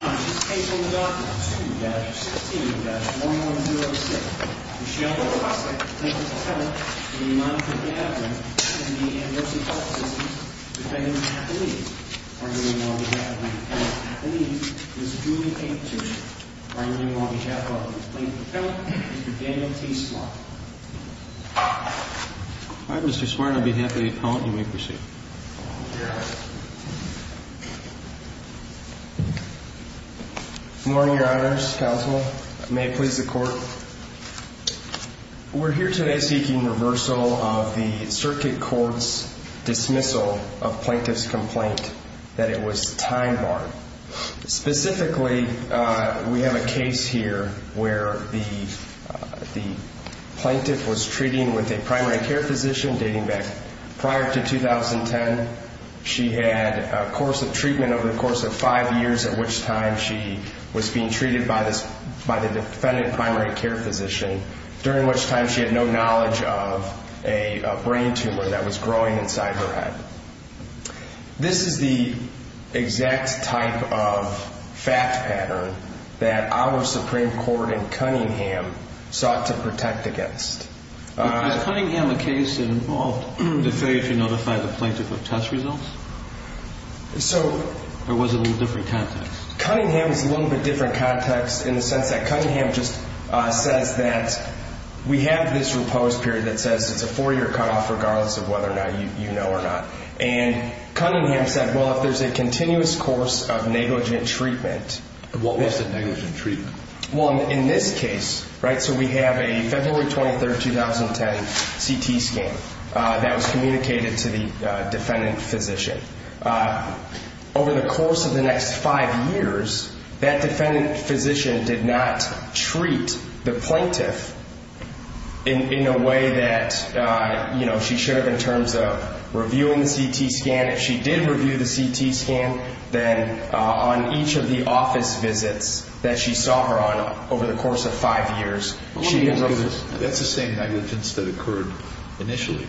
In this case on the docket, 2-16-1106, Michelle O. Rossek, plaintiff's appellant, in the name of Mr. Gavran, in the amnesty court system, defendant on behalf of me, arguing on behalf of my appellant on behalf of me, Mr. Julian H. Tushin, arguing on behalf of the plaintiff's appellant, Mr. Daniel T. Smart. All right, Mr. Smart, on behalf of the appellant, you may proceed. Good morning, your honors, counsel. May it please the court. We're here today seeking reversal of the circuit court's dismissal of plaintiff's complaint, that it was time barred. Specifically, we have a case here where the plaintiff was treating with a primary care physician dating back prior to 2010. She had a course of treatment over the course of five years, at which time she was being treated by the defendant primary care physician, during which time she had no knowledge of a brain tumor that was growing inside her head. This is the exact type of fact pattern that our Supreme Court in Cunningham sought to protect against. Was Cunningham a case that involved the failure to notify the plaintiff of test results? Or was it a little different context? Cunningham is a little bit different context in the sense that Cunningham just says that we have this repose period that says it's a four-year cutoff regardless of whether or not you know or not. And Cunningham said, well, if there's a continuous course of negligent treatment... What was the negligent treatment? Well, in this case, right, so we have a February 23, 2010 CT scan that was communicated to the defendant physician. Over the course of the next five years, that defendant physician did not treat the plaintiff in a way that, you know, she should have in terms of reviewing the CT scan. And if she did review the CT scan, then on each of the office visits that she saw her on over the course of five years... That's the same negligence that occurred initially.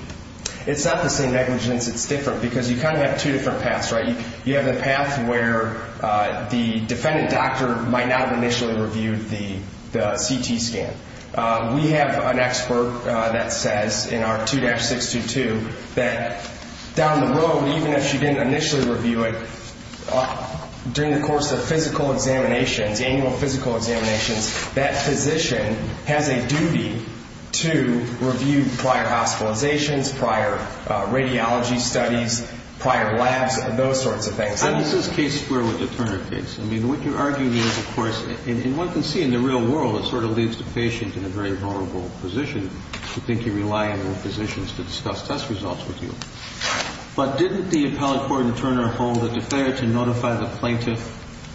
It's not the same negligence. It's different because you kind of have two different paths, right? You have the path where the defendant doctor might not have initially reviewed the CT scan. We have an expert that says in our 2-622 that down the road, even if she didn't initially review it, during the course of physical examinations, annual physical examinations, that physician has a duty to review prior hospitalizations, prior radiology studies, prior labs, those sorts of things. This is case square with the Turner case. I mean, what you're arguing is, of course, and one can see in the real world, it sort of leaves the patient in a very vulnerable position to think you rely on the physicians to discuss test results with you. But didn't the appellate court in Turner hold that the failure to notify the plaintiff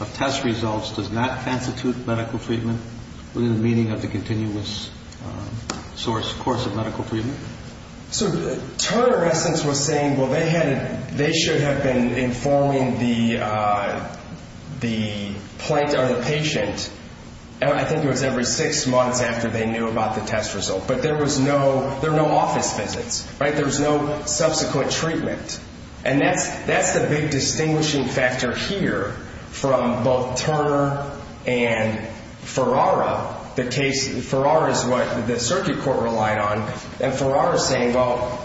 of test results does not constitute medical treatment within the meaning of the continuous course of medical treatment? So Turner, in essence, was saying, well, they should have been informing the patient, I think it was every six months after they knew about the test result. But there were no office visits, right? There was no subsequent treatment. And that's the big distinguishing factor here from both Turner and Ferrara. Ferrara is what the circuit court relied on, and Ferrara is saying, well,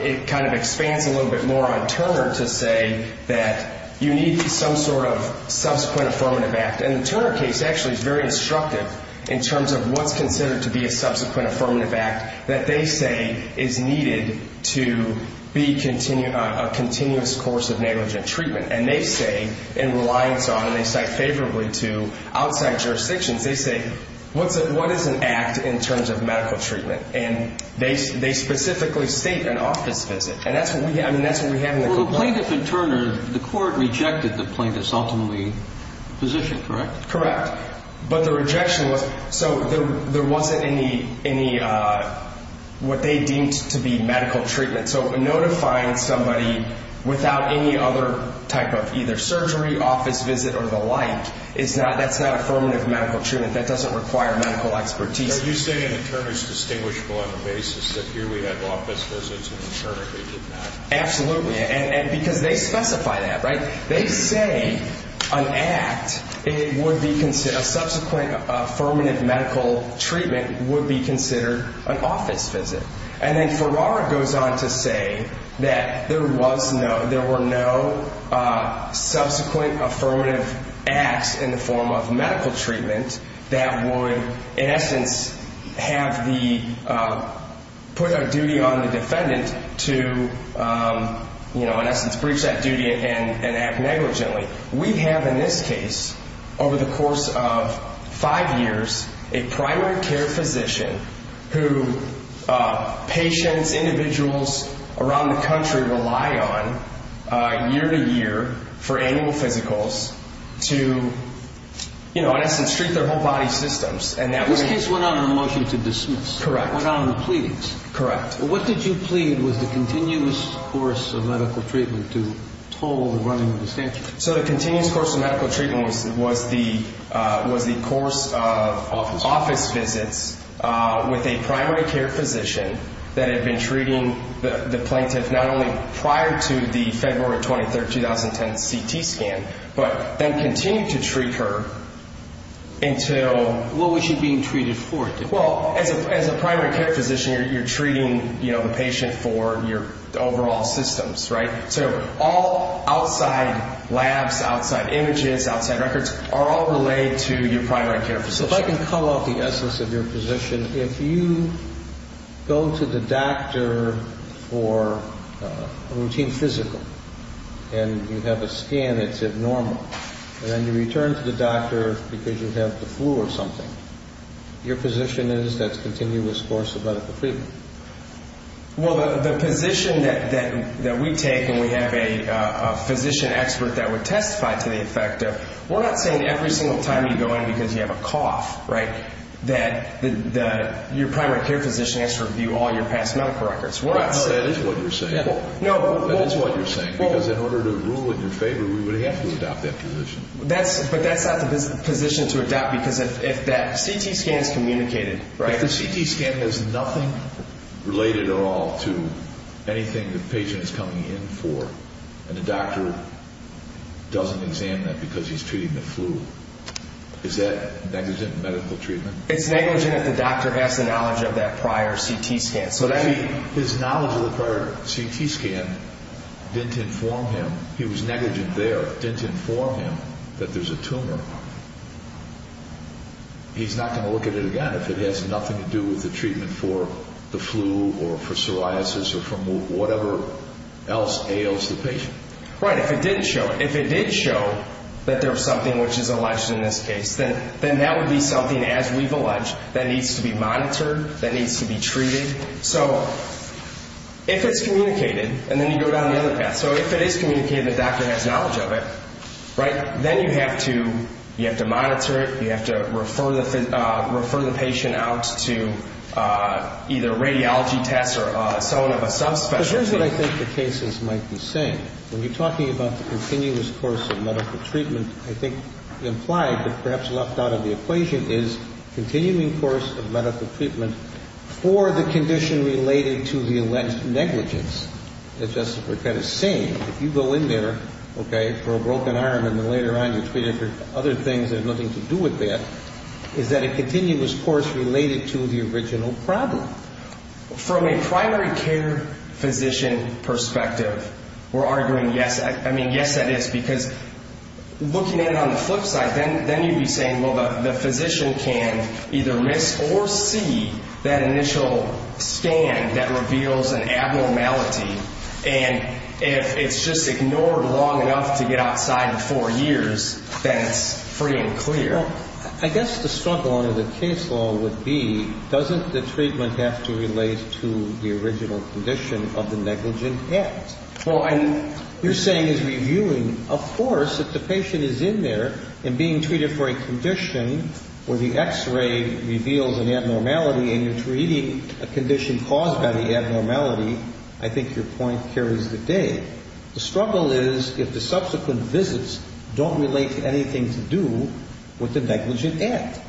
it kind of expands a little bit more on Turner to say that you need some sort of subsequent affirmative act. And the Turner case actually is very instructive in terms of what's considered to be a subsequent affirmative act that they say is needed to be a continuous course of negligent treatment. And they say, in reliance on, and they cite favorably to outside jurisdictions, they say, what is an act in terms of medical treatment? And they specifically state an office visit. And that's what we have in the complaint. Well, plaintiff and Turner, the court rejected the plaintiff's ultimately position, correct? Correct. But the rejection was, so there wasn't any, what they deemed to be medical treatment. So notifying somebody without any other type of either surgery, office visit, or the like, that's not affirmative medical treatment. That doesn't require medical expertise. So you're saying that Turner's distinguishable on the basis that here we had office visits and in Turner they did not? Absolutely. And because they specify that, right? They say an act, a subsequent affirmative medical treatment would be considered an office visit. And then Ferrara goes on to say that there was no, there were no subsequent affirmative acts in the form of medical treatment that would, in essence, have the, put a duty on the defendant to, you know, in essence, breach that duty and act negligently. We have in this case, over the course of five years, a primary care physician who patients, individuals around the country rely on year to year for annual physicals to, you know, in essence, treat their whole body systems. This case went out on a motion to dismiss. Correct. Went out on a plea. Correct. What did you plead was the continuous course of medical treatment to toll the running of the statute? So the continuous course of medical treatment was the course of office visits with a primary care physician that had been treating the plaintiff not only prior to the February 23, 2010 CT scan, but then continued to treat her until... What was she being treated for? Well, as a primary care physician, you're treating, you know, the patient for your overall systems, right? So all outside labs, outside images, outside records are all relayed to your primary care physician. If I can call out the essence of your position, if you go to the doctor for a routine physical and you have a scan that's abnormal and then you return to the doctor because you have the flu or something, your position is that's continuous course of medical treatment. Well, the position that we take and we have a physician expert that would testify to the effect of, we're not saying every single time you go in because you have a cough, right, that your primary care physician has to review all your past medical records. No, that is what you're saying. No. That is what you're saying because in order to rule in your favor, we would have to adopt that position. But that's not the position to adopt because if that CT scan is communicated, right? If the CT scan has nothing related at all to anything the patient is coming in for and the doctor doesn't examine that because he's treating the flu, is that negligent medical treatment? It's negligent if the doctor has the knowledge of that prior CT scan. If his knowledge of the prior CT scan didn't inform him, he was negligent there, didn't inform him that there's a tumor, he's not going to look at it again if it has nothing to do with the treatment for the flu or for psoriasis or for whatever else ails the patient. Right. If it didn't show, if it did show that there was something which is alleged in this case, then that would be something, as we've alleged, that needs to be monitored, that needs to be treated. So if it's communicated and then you go down the other path, so if it is communicated the doctor has knowledge of it, right, then you have to monitor it, you have to refer the patient out to either radiology tests or someone of a subspecialty. Because here's what I think the cases might be saying. When you're talking about the continuous course of medical treatment, I think implied but perhaps left out of the equation is continuing course of medical treatment for the condition related to the alleged negligence. That's just what we're kind of saying. If you go in there, okay, for a broken arm and then later on you're treated for other things that have nothing to do with that, is that a continuous course related to the original problem? From a primary care physician perspective, we're arguing yes. I mean, yes, that is. Because looking at it on the flip side, then you'd be saying, well, the physician can either miss or see that initial scan that reveals an abnormality. And if it's just ignored long enough to get outside in four years, then it's pretty unclear. I guess the struggle under the case law would be, doesn't the treatment have to relate to the original condition of the negligent? Yes. Well, you're saying it's reviewing. Of course, if the patient is in there and being treated for a condition where the X-ray reveals an abnormality and you're treating a condition caused by the abnormality, I think your point carries the day. The struggle is if the subsequent visits don't relate to anything to do with the negligent act.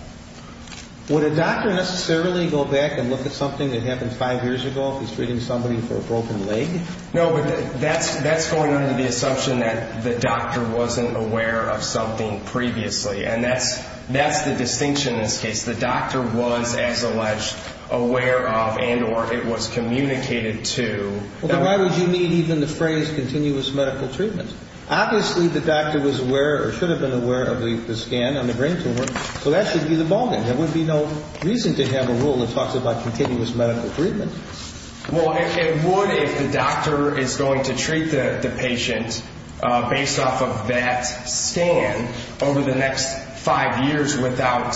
Would a doctor necessarily go back and look at something that happened five years ago if he's treating somebody for a broken leg? No, but that's going under the assumption that the doctor wasn't aware of something previously. And that's the distinction in this case. The doctor was, as alleged, aware of and or it was communicated to. Well, then why would you need even the phrase continuous medical treatment? Obviously, the doctor was aware or should have been aware of the scan on the brain tumor, so that should be the ballgame. There would be no reason to have a rule that talks about continuous medical treatment. Well, it would if the doctor is going to treat the patient based off of that scan over the next five years without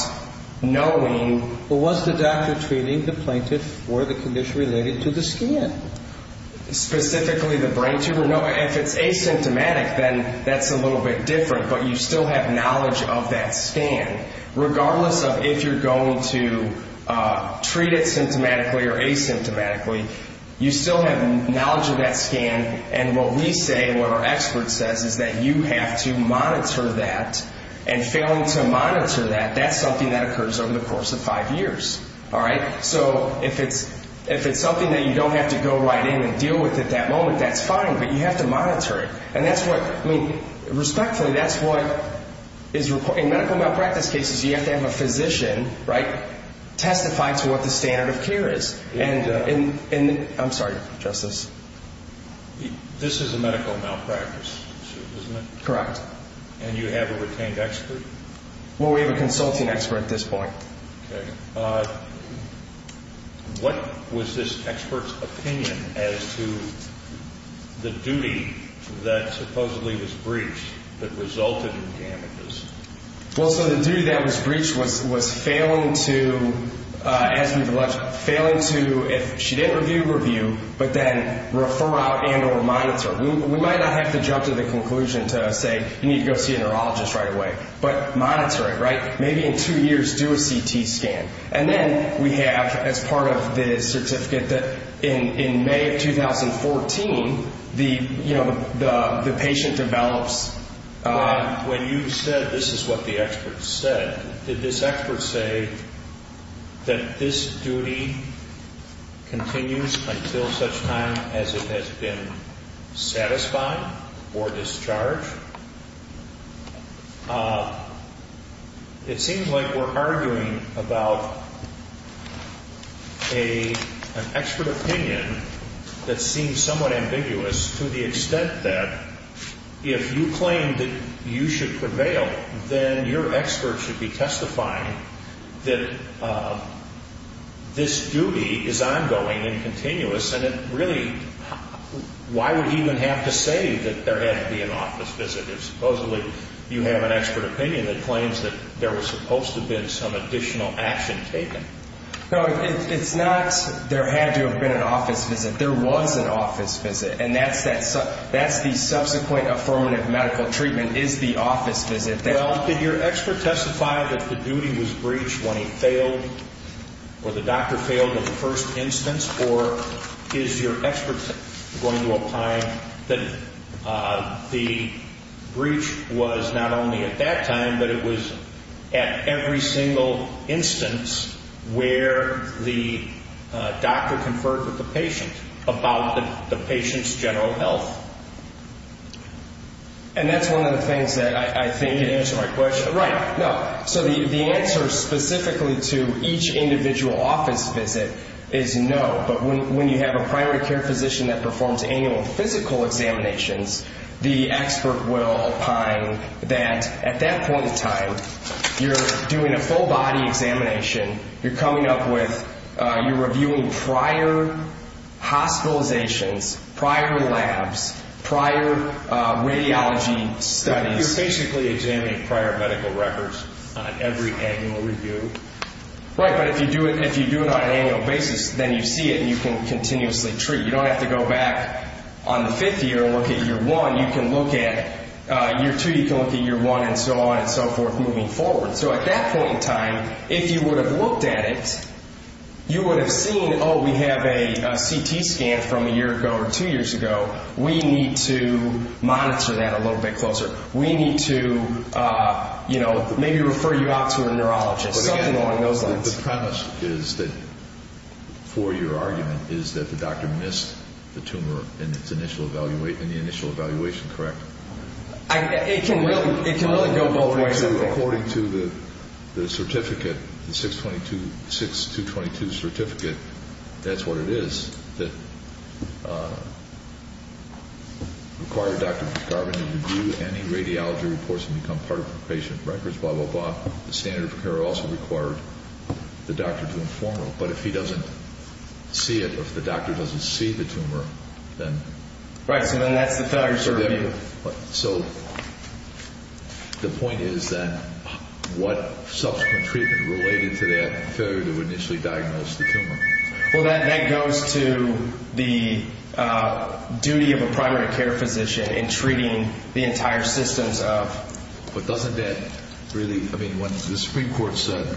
knowing. Well, was the doctor treating the plaintiff for the condition related to the scan? Specifically the brain tumor? No, if it's asymptomatic, then that's a little bit different, but you still have knowledge of that scan. Regardless of if you're going to treat it symptomatically or asymptomatically, you still have knowledge of that scan. And what we say and what our expert says is that you have to monitor that. And failing to monitor that, that's something that occurs over the course of five years. So if it's something that you don't have to go right in and deal with at that moment, that's fine, but you have to monitor it. Respectfully, that's what is reported. In medical malpractice cases, you have to have a physician testify to what the standard of care is. I'm sorry, Justice. This is a medical malpractice suit, isn't it? Correct. And you have a retained expert? Well, we have a consulting expert at this point. Okay. What was this expert's opinion as to the duty that supposedly was breached that resulted in damages? Well, so the duty that was breached was failing to, as we've alleged, failing to, if she didn't review, review, but then refer out and or monitor. We might not have to jump to the conclusion to say you need to go see a neurologist right away, but monitor it, right? Do a CT scan. And then we have, as part of the certificate, that in May of 2014, the patient develops. When you said this is what the expert said, did this expert say that this duty continues until such time as it has been satisfied or discharged? It seems like we're arguing about an expert opinion that seems somewhat ambiguous to the extent that if you claim that you should prevail, then your expert should be testifying that this duty is ongoing and continuous, and really, why would he even have to say that there had to be an office visit if supposedly you have an expert opinion that claims that there was supposed to have been some additional action taken? No, it's not there had to have been an office visit. There was an office visit, and that's the subsequent affirmative medical treatment is the office visit. Well, did your expert testify that the duty was breached when he failed or the doctor failed in the first instance, or is your expert going to opine that the breach was not only at that time, but it was at every single instance where the doctor conferred with the patient about the patient's general health? And that's one of the things that I think... You didn't answer my question. Right, no. So the answer specifically to each individual office visit is no, but when you have a primary care physician that performs annual physical examinations, the expert will opine that at that point in time, you're doing a full body examination, you're coming up with, you're reviewing prior hospitalizations, prior labs, prior radiology studies. You're basically examining prior medical records on every annual review. Right, but if you do it on an annual basis, then you see it and you can continuously treat. You don't have to go back on the fifth year and look at year one. You can look at year two, you can look at year one and so on and so forth moving forward. So at that point in time, if you would have looked at it, you would have seen, oh, we have a CT scan from a year ago or two years ago. We need to monitor that a little bit closer. We need to maybe refer you out to a neurologist, something along those lines. The premise is that, for your argument, is that the doctor missed the tumor in the initial evaluation, correct? It can really go both ways. According to the certificate, the 622 certificate, that's what it is, that required Dr. McCarvin to review any radiology reports and become part of the patient records, blah, blah, blah. The standard of care also required the doctor to inform him. But if he doesn't see it, if the doctor doesn't see the tumor, then... Right, so then that's the failure to review. So the point is that what subsequent treatment related to that failure to initially diagnose the tumor? Well, that goes to the duty of a primary care physician in treating the entire systems of... But doesn't that really, I mean, when the Supreme Court said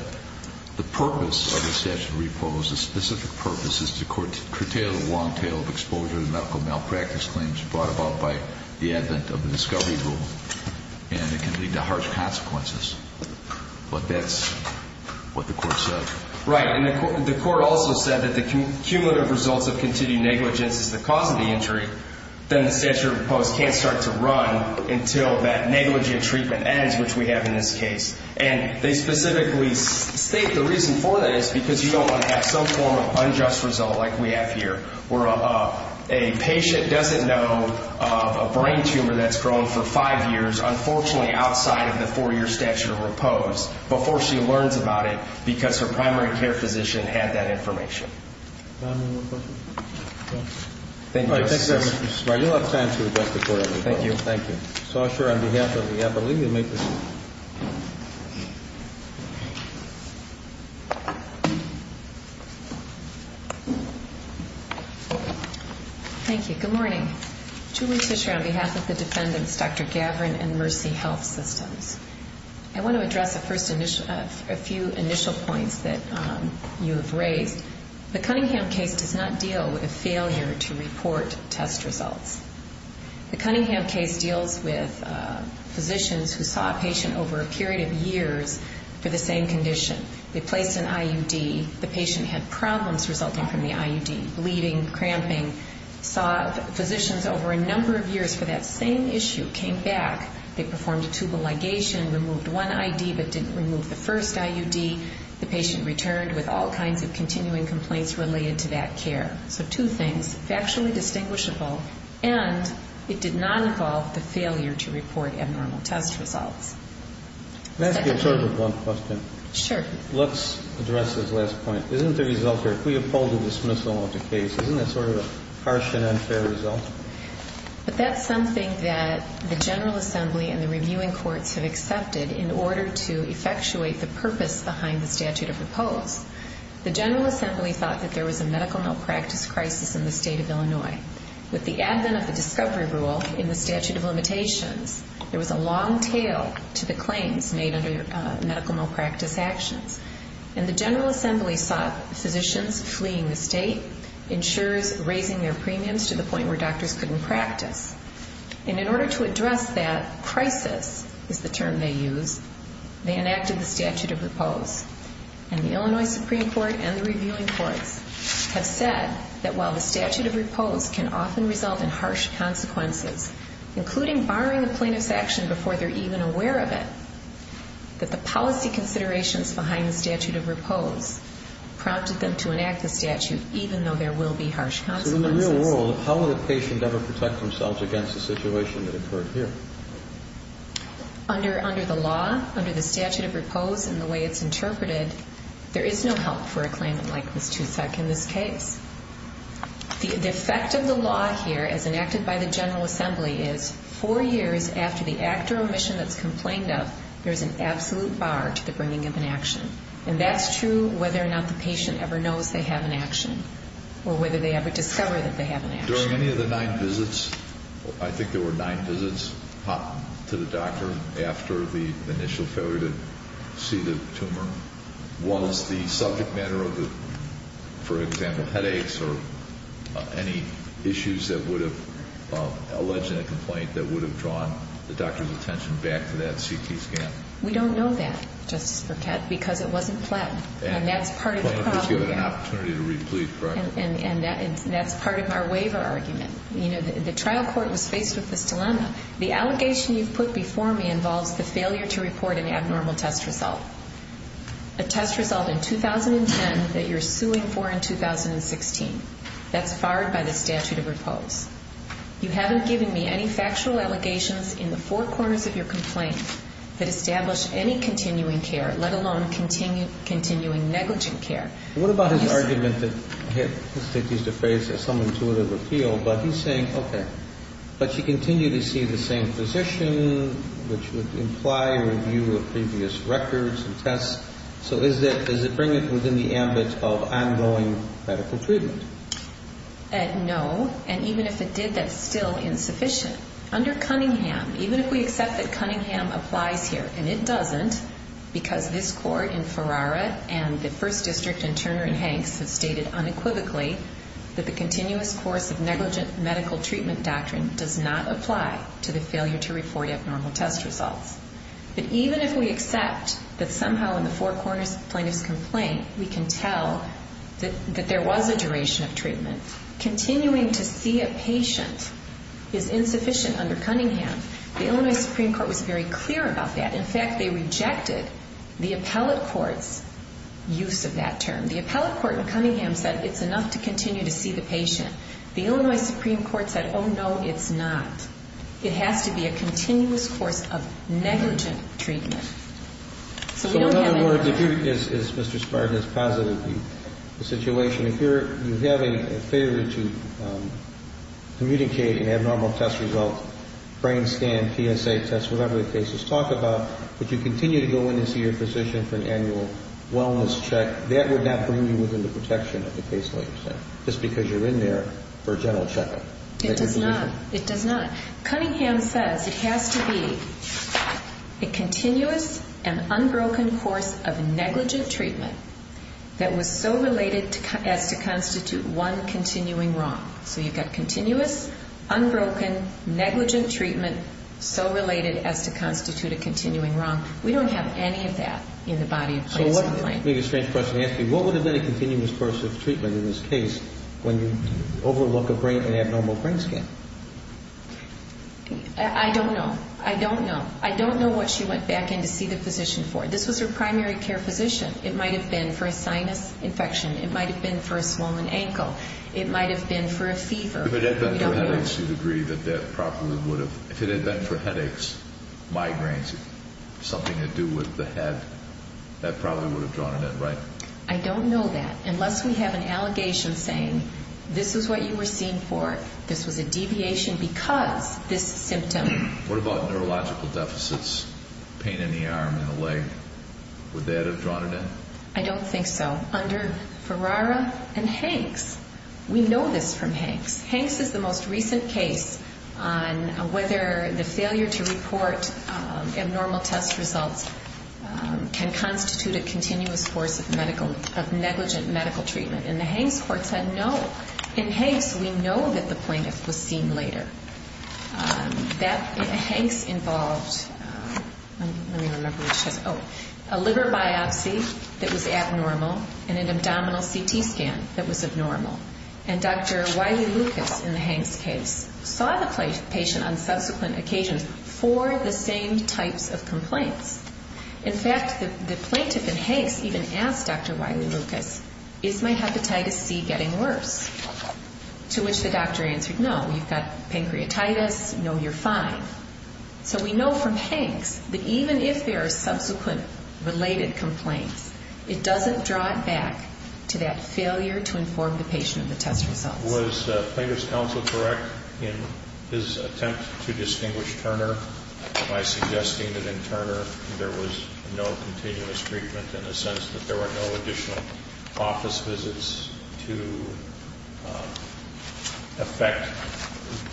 the purpose of the statute of repose, the specific purpose is to curtail the long tail of exposure to medical malpractice claims brought about by the advent of the discovery rule, and it can lead to harsh consequences. But that's what the court said. Right, and the court also said that the cumulative results of continued negligence is the cause of the injury. Then the statute of repose can't start to run until that negligent treatment ends, which we have in this case. And they specifically state the reason for that is because you don't want to have some form of unjust result like we have here, where a patient doesn't know of a brain tumor that's grown for five years, unfortunately outside of the four-year statute of repose, before she learns about it, because her primary care physician had that information. Do I have one more question? Thank you. All right, thank you, Mr. Smart. You'll have time to address the court. Thank you. Thank you. Sasha, on behalf of the appellee, you may proceed. Thank you. Good morning. Julie Fisher on behalf of the defendants, Dr. Gavran and Mercy Health Systems. I want to address a few initial points that you have raised. The Cunningham case does not deal with a failure to report test results. The Cunningham case deals with physicians who saw a patient over a period of years for the same condition. They placed an IUD. The patient had problems resulting from the IUD, bleeding, cramping, saw physicians over a number of years for that same issue, came back, they performed a tubal ligation, removed one IUD but didn't remove the first IUD. The patient returned with all kinds of continuing complaints related to that care. So two things, factually distinguishable, and it did not involve the failure to report abnormal test results. Can I ask you sort of a blunt question? Sure. Let's address this last point. Isn't the result here, if we uphold the dismissal of the case, isn't that sort of a harsh and unfair result? But that's something that the General Assembly and the reviewing courts have accepted in order to effectuate the purpose behind the statute of repose. The General Assembly thought that there was a medical malpractice crisis in the state of Illinois. With the advent of the discovery rule in the statute of limitations, there was a long tail to the claims made under medical malpractice actions. And the General Assembly saw physicians fleeing the state, insurers raising their premiums to the point where doctors couldn't practice. And in order to address that crisis, is the term they used, they enacted the statute of repose. And the Illinois Supreme Court and the reviewing courts have said that while the statute of repose can often result in harsh consequences, including barring the plaintiff's action before they're even aware of it, that the policy considerations behind the statute of repose prompted them to enact the statute even though there will be harsh consequences. So in the real world, how would a patient ever protect themselves against a situation that occurred here? Under the law, under the statute of repose and the way it's interpreted, there is no help for a claimant like Ms. Tusek in this case. The effect of the law here, as enacted by the General Assembly, is four years after the act or omission that's complained of, there's an absolute bar to the bringing of an action. And that's true whether or not the patient ever knows they have an action or whether they ever discover that they have an action. During any of the nine visits, I think there were nine visits to the doctor after the initial failure to see the tumor, was the subject matter of the, for example, headaches or any issues that would have alleged in a complaint that would have drawn the doctor's attention back to that CT scan? We don't know that, Justice Burkett, because it wasn't pled. And that's part of the problem. The plaintiff was given an opportunity to read the plea, correct? And that's part of our waiver argument. You know, the trial court was faced with this dilemma. The allegation you've put before me involves the failure to report an abnormal test result, a test result in 2010 that you're suing for in 2016. That's fired by the statute of repose. You haven't given me any factual allegations in the four corners of your complaint that establish any continuing care, let alone continuing negligent care. What about his argument that he had, let's take these to face as some intuitive appeal, but he's saying, okay, but you continue to see the same physician, which would imply review of previous records and tests. So does it bring it within the ambit of ongoing medical treatment? No. And even if it did, that's still insufficient. Under Cunningham, even if we accept that Cunningham applies here, and it doesn't because this court in Ferrara and the first district in Turner and Hanks have stated unequivocally that the continuous course of negligent medical treatment doctrine does not apply to the failure to report abnormal test results. But even if we accept that somehow in the four corners of the plaintiff's complaint we can tell that there was a duration of treatment, continuing to see a patient is insufficient under Cunningham. The Illinois Supreme Court was very clear about that. In fact, they rejected the appellate court's use of that term. The appellate court in Cunningham said it's enough to continue to see the patient. The Illinois Supreme Court said, oh, no, it's not. It has to be a continuous course of negligent treatment. So we don't have any more. So in other words, if you, as Mr. Spartan has posited the situation, if you have a failure to communicate an abnormal test result, brain scan, PSA test, whatever the case is talked about, but you continue to go in and see your physician for an annual wellness check, that would not bring you within the protection of the case, just because you're in there for a general checkup. It does not. It does not. Cunningham says it has to be a continuous and unbroken course of negligent treatment that was so related as to constitute one continuing wrong. So you've got continuous, unbroken, negligent treatment, so related as to constitute a continuing wrong. We don't have any of that in the body. So what would have been a continuous course of treatment in this case when you overlook a brain and abnormal brain scan? I don't know. I don't know. I don't know what she went back in to see the physician for. This was her primary care physician. It might have been for a sinus infection. It might have been for a swollen ankle. It might have been for a fever. If it had been for headaches, you'd agree that that probably would have, if it had been for headaches, migraines, something to do with the head, that probably would have drawn an N, right? I don't know that. Unless we have an allegation saying this is what you were seen for, this was a deviation because this symptom. What about neurological deficits, pain in the arm and the leg? Would that have drawn an N? I don't think so. Under Ferrara and Hanks, we know this from Hanks. Hanks is the most recent case on whether the failure to report abnormal test results can constitute a continuous course of negligent medical treatment. And the Hanks court said no. In Hanks, we know that the plaintiff was seen later. Hanks involved a liver biopsy that was abnormal and an abdominal CT scan that was abnormal. And Dr. Wiley-Lucas in the Hanks case saw the patient on subsequent occasions for the same types of complaints. In fact, the plaintiff in Hanks even asked Dr. Wiley-Lucas, is my hepatitis C getting worse? To which the doctor answered, no, you've got pancreatitis. No, you're fine. So we know from Hanks that even if there are subsequent related complaints, it doesn't draw it back to that failure to inform the patient of the test results. Was the plaintiff's counsel correct in his attempt to distinguish Turner by suggesting that in Turner there was no continuous treatment in the sense that there were no additional office visits to affect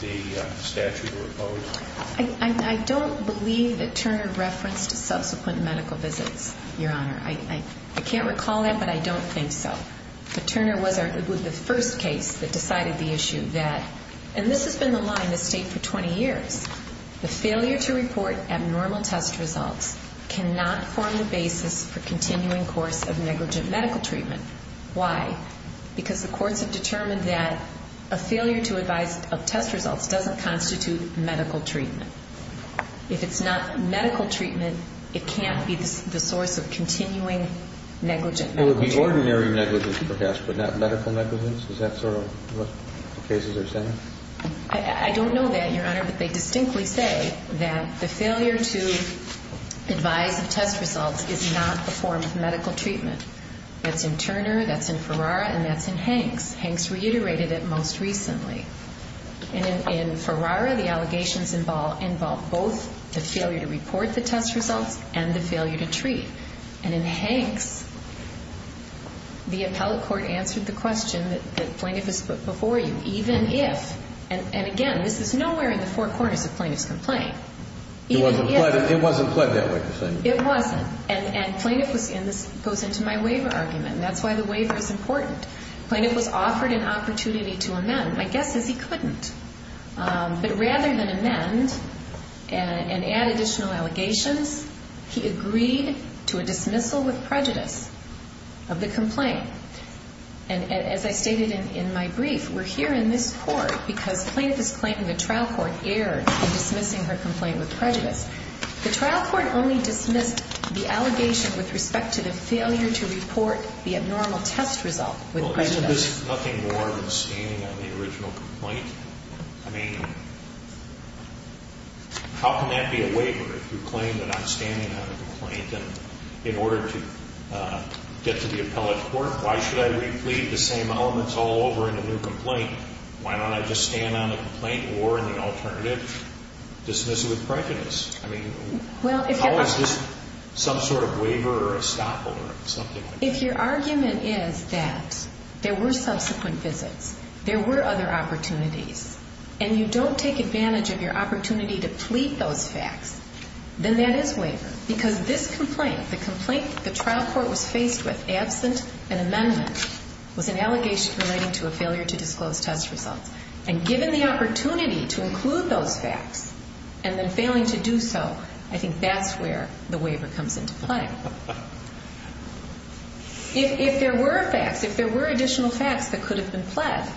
the statute of repose? I don't believe that Turner referenced subsequent medical visits, Your Honor. I can't recall that, but I don't think so. But Turner was the first case that decided the issue that, and this has been the line of state for 20 years, the failure to report abnormal test results cannot form the basis for continuing course of negligent medical treatment. Why? Because the courts have determined that a failure to advise of test results doesn't constitute medical treatment. If it's not medical treatment, it can't be the source of continuing negligent medical treatment. It would be ordinary negligence, perhaps, but not medical negligence? Is that sort of what the cases are saying? I don't know that, Your Honor, but they distinctly say that the failure to advise of test results is not a form of medical treatment. That's in Turner, that's in Ferrara, and that's in Hanks. Hanks reiterated it most recently. And in Ferrara, the allegations involve both the failure to report the test results and the failure to treat. And in Hanks, the appellate court answered the question that the plaintiff has put before you, even if, and again, this is nowhere in the four corners of plaintiff's complaint. It wasn't pled that way. It wasn't. And this goes into my waiver argument, and that's why the waiver is important. The plaintiff was offered an opportunity to amend. My guess is he couldn't. But rather than amend and add additional allegations, he agreed to a dismissal with prejudice of the complaint. And as I stated in my brief, we're here in this court because plaintiff is claiming the trial court erred in dismissing her complaint with prejudice. The trial court only dismissed the allegation with respect to the failure to report the abnormal test result with prejudice. Well, isn't this nothing more than standing on the original complaint? I mean, how can that be a waiver if you claim that I'm standing on a complaint? And in order to get to the appellate court, why should I replead the same elements all over in a new complaint? Why don't I just stand on the complaint or in the alternative dismissal with prejudice? I mean, how is this some sort of waiver or estoppel or something like that? If your argument is that there were subsequent visits, there were other opportunities, and you don't take advantage of your opportunity to plead those facts, then that is waiver because this complaint, the complaint the trial court was faced with absent an amendment, was an allegation relating to a failure to disclose test results. And given the opportunity to include those facts and then failing to do so, I think that's where the waiver comes into play. If there were facts, if there were additional facts that could have been pled,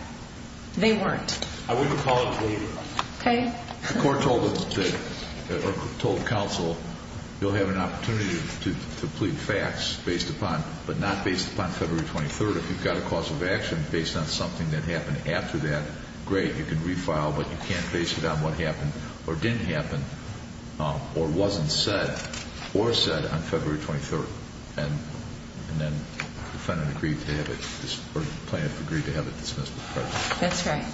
they weren't. I wouldn't call it a waiver. Okay. The court told counsel you'll have an opportunity to plead facts based upon, but not based upon February 23rd. If you've got a cause of action based on something that happened after that, great. You can refile, but you can't base it on what happened or didn't happen or wasn't said or said on February 23rd. And then the defendant agreed to have it or plaintiff agreed to have it dismissed with prejudice. That's right.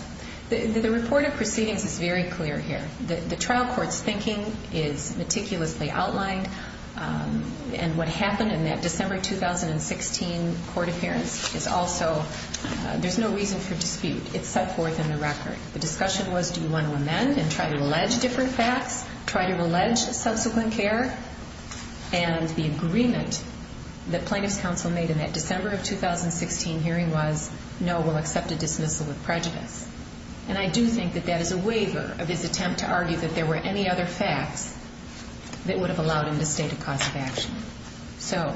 The report of proceedings is very clear here. The trial court's thinking is meticulously outlined, and what happened in that December 2016 court appearance is also there's no reason for dispute. It's set forth in the record. The discussion was do you want to amend and try to allege different facts, try to allege subsequent care, and the agreement that plaintiff's counsel made in that December of 2016 hearing was, no, we'll accept a dismissal with prejudice. And I do think that that is a waiver of his attempt to argue that there were any other facts that would have allowed him to state a cause of action. So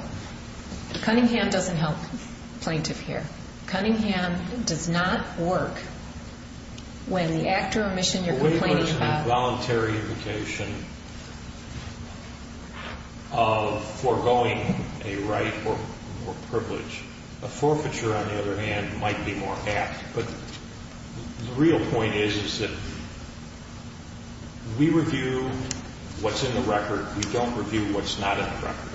Cunningham doesn't help plaintiff here. Cunningham does not work when the act or omission you're complaining about— of foregoing a right or privilege. A forfeiture, on the other hand, might be more apt. But the real point is that we review what's in the record. We don't review what's not in the record.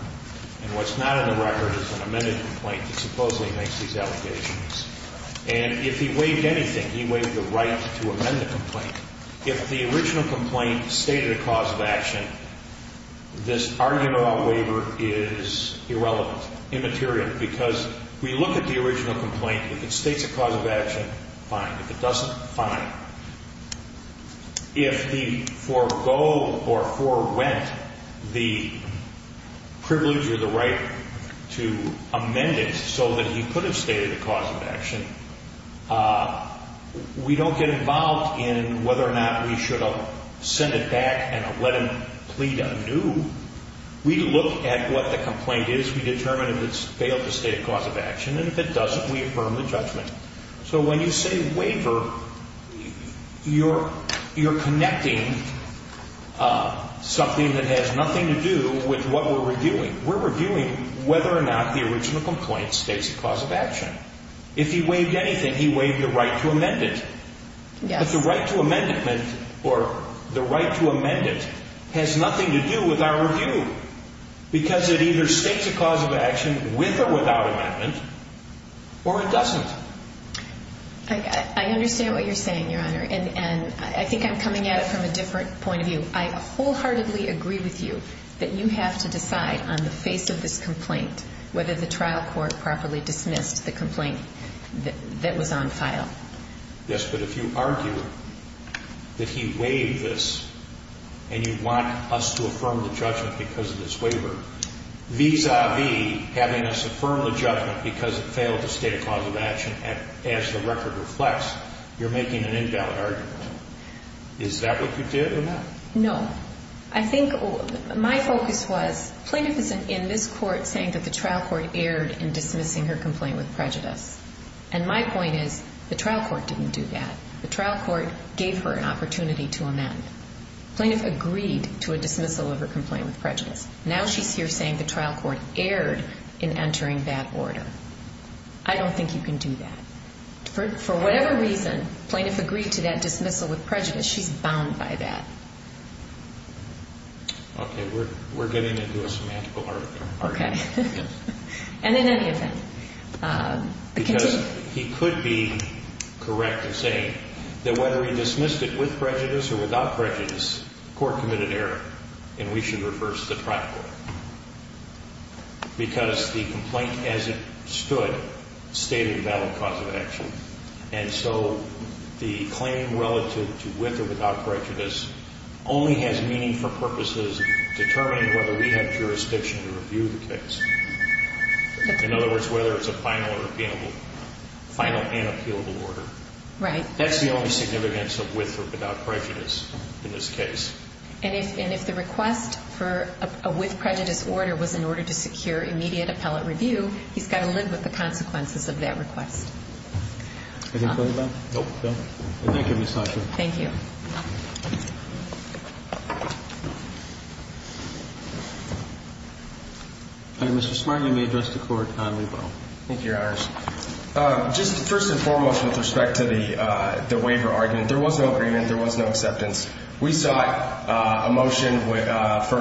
And what's not in the record is an amended complaint that supposedly makes these allegations. And if he waived anything, he waived the right to amend the complaint. If the original complaint stated a cause of action, this argument on waiver is irrelevant, immaterial, because we look at the original complaint. If it states a cause of action, fine. If it doesn't, fine. If the forego or forewent the privilege or the right to amend it so that he could have stated a cause of action, we don't get involved in whether or not we should have sent it back and let him plead anew. We look at what the complaint is. We determine if it's failed to state a cause of action. And if it doesn't, we affirm the judgment. So when you say waiver, you're connecting something that has nothing to do with what we're reviewing. We're reviewing whether or not the original complaint states a cause of action. If he waived anything, he waived the right to amend it. But the right to amend it has nothing to do with our review, because it either states a cause of action with or without amendment, or it doesn't. I understand what you're saying, Your Honor. And I think I'm coming at it from a different point of view. I wholeheartedly agree with you that you have to decide on the face of this complaint whether the trial court properly dismissed the complaint that was on file. Yes, but if you argue that he waived this and you want us to affirm the judgment because of this waiver, vis-a-vis having us affirm the judgment because it failed to state a cause of action, as the record reflects, you're making an invalid argument. Is that what you did or not? No. I think my focus was, plaintiff is in this court saying that the trial court erred in dismissing her complaint with prejudice. And my point is the trial court didn't do that. The trial court gave her an opportunity to amend. Plaintiff agreed to a dismissal of her complaint with prejudice. Now she's here saying the trial court erred in entering that order. I don't think you can do that. For whatever reason, plaintiff agreed to that dismissal with prejudice. She's bound by that. Okay, we're getting into a semantical argument. Okay. And then any of them. Because he could be correct in saying that whether he dismissed it with prejudice or without prejudice, court committed error and we should reverse the trial court. Because the complaint as it stood stated a valid cause of action. And so the claim relative to with or without prejudice only has meaning for purposes determining whether we have jurisdiction to review the case. In other words, whether it's a final and appealable order. Right. That's the only significance of with or without prejudice in this case. And if the request for a with prejudice order was in order to secure immediate appellate review, he's got to live with the consequences of that request. Anything further, Bob? Nope. Thank you, Ms. Hatcher. Thank you. Mr. Smart, you may address the court on rebuttal. Thank you, Your Honors. Just first and foremost with respect to the waiver argument, there was no agreement. There was no acceptance. We sought a motion for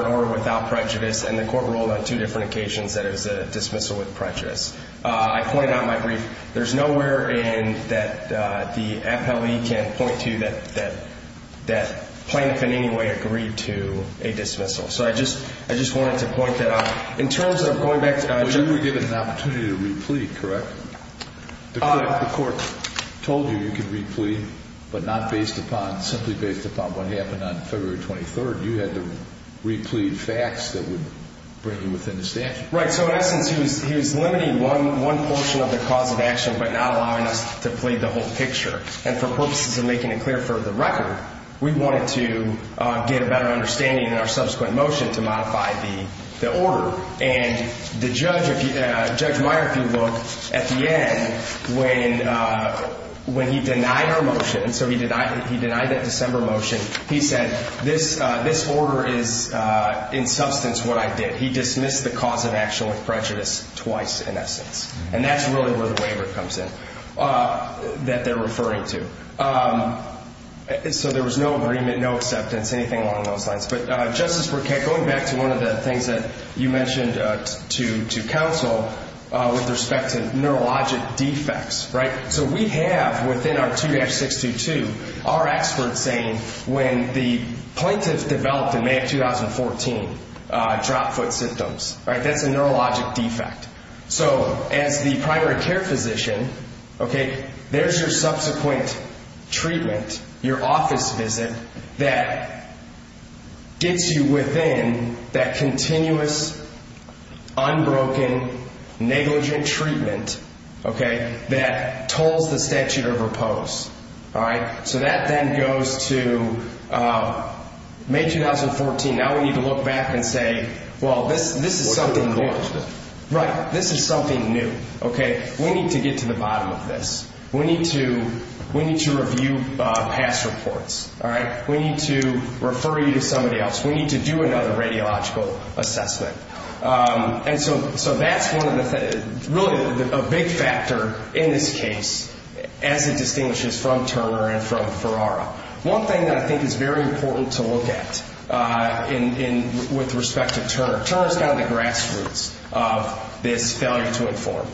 an order without prejudice, and the court ruled on two different occasions that it was a dismissal with prejudice. I pointed out in my brief, there's nowhere in that the appellee can't point to that plaintiff in any way agreed to a dismissal. So I just wanted to point that out. In terms of going back to- But you were given the opportunity to replete, correct? Correct. I thought the court told you you could replete, but not based upon, simply based upon what happened on February 23rd. You had to replete facts that would bring you within the statute. Right. So in essence, he was limiting one portion of the cause of action but not allowing us to plead the whole picture. And for purposes of making it clear for the record, we wanted to get a better understanding in our subsequent motion to modify the order. And the judge, Judge Meyer, if you look at the end, when he denied our motion, so he denied that December motion, he said this order is in substance what I did. He dismissed the cause of action with prejudice twice, in essence. And that's really where the waiver comes in that they're referring to. So there was no agreement, no acceptance, anything along those lines. But Justice Burkett, going back to one of the things that you mentioned to counsel with respect to neurologic defects, right? So we have within our 2-622 our experts saying when the plaintiff developed in May of 2014 drop foot symptoms, right? That's a neurologic defect. So as the primary care physician, okay, there's your subsequent treatment, your office visit, that gets you within that continuous, unbroken, negligent treatment, okay, that tolls the statute of repose. All right? So that then goes to May 2014. Now we need to look back and say, well, this is something new. Right. This is something new, okay? We need to get to the bottom of this. We need to review past reports, all right? We need to refer you to somebody else. We need to do another radiological assessment. And so that's really a big factor in this case as it distinguishes from Turner and from Ferrara. Turner is kind of the grassroots of this failure to inform.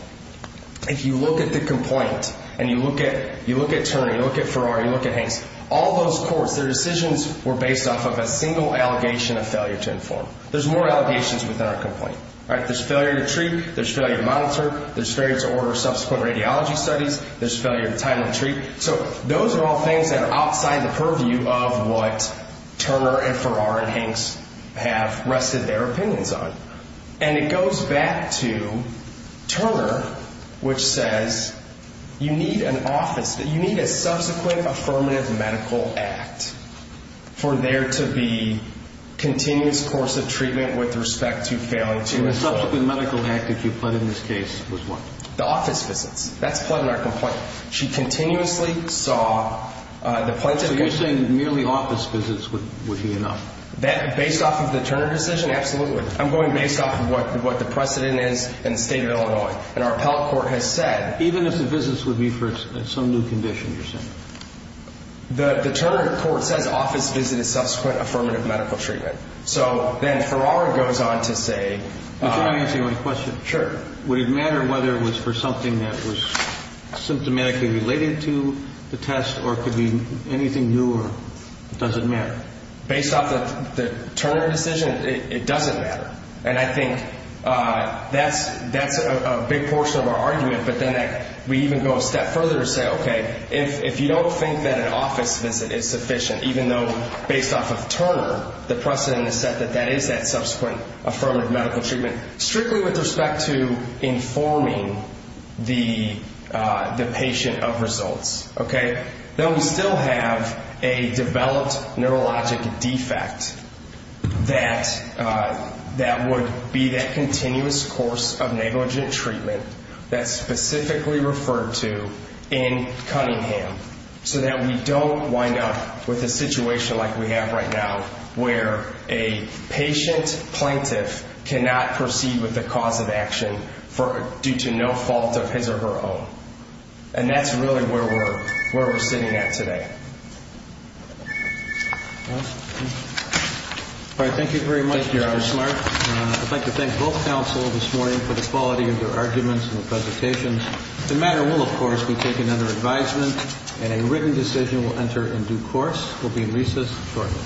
If you look at the complaint and you look at Turner, you look at Ferrara, you look at Hanks, all those courts, their decisions were based off of a single allegation of failure to inform. There's more allegations within our complaint, right? There's failure to treat. There's failure to monitor. There's failure to order subsequent radiology studies. There's failure to time and treat. So those are all things that are outside the purview of what Turner and Ferrara and Hanks have rested their opinions on. And it goes back to Turner, which says you need an office, you need a subsequent affirmative medical act for there to be continuous course of treatment with respect to failure to inform. And the subsequent medical act that you pled in this case was what? The office visits. That's pled in our complaint. She continuously saw the pledge. So you're saying merely office visits would be enough? Based off of the Turner decision? Absolutely. I'm going based off of what the precedent is in the state of Illinois. And our appellate court has said. Even if the visits would be for some new condition, you're saying? The Turner court says office visit is subsequent affirmative medical treatment. So then Ferrara goes on to say. Can I ask you a question? Sure. Would it matter whether it was for something that was symptomatically related to the test or could be anything new? Or does it matter? Based off of the Turner decision, it doesn't matter. And I think that's a big portion of our argument. But then we even go a step further and say, okay, if you don't think that an office visit is sufficient, even though based off of Turner, the precedent has said that that is that subsequent affirmative medical treatment. Strictly with respect to informing the patient of results, okay, then we still have a developed neurologic defect that would be that continuous course of negligent treatment that's specifically referred to in Cunningham so that we don't wind up with a situation like we have right now where a patient plaintiff cannot proceed with the cause of action due to no fault of his or her own. And that's really where we're sitting at today. All right, thank you very much, Mr. Smart. I'd like to thank both counsel this morning for the quality of your arguments and the presentations. The matter will, of course, be taken under advisement, and a written decision will enter in due course. We'll be in recess shortly.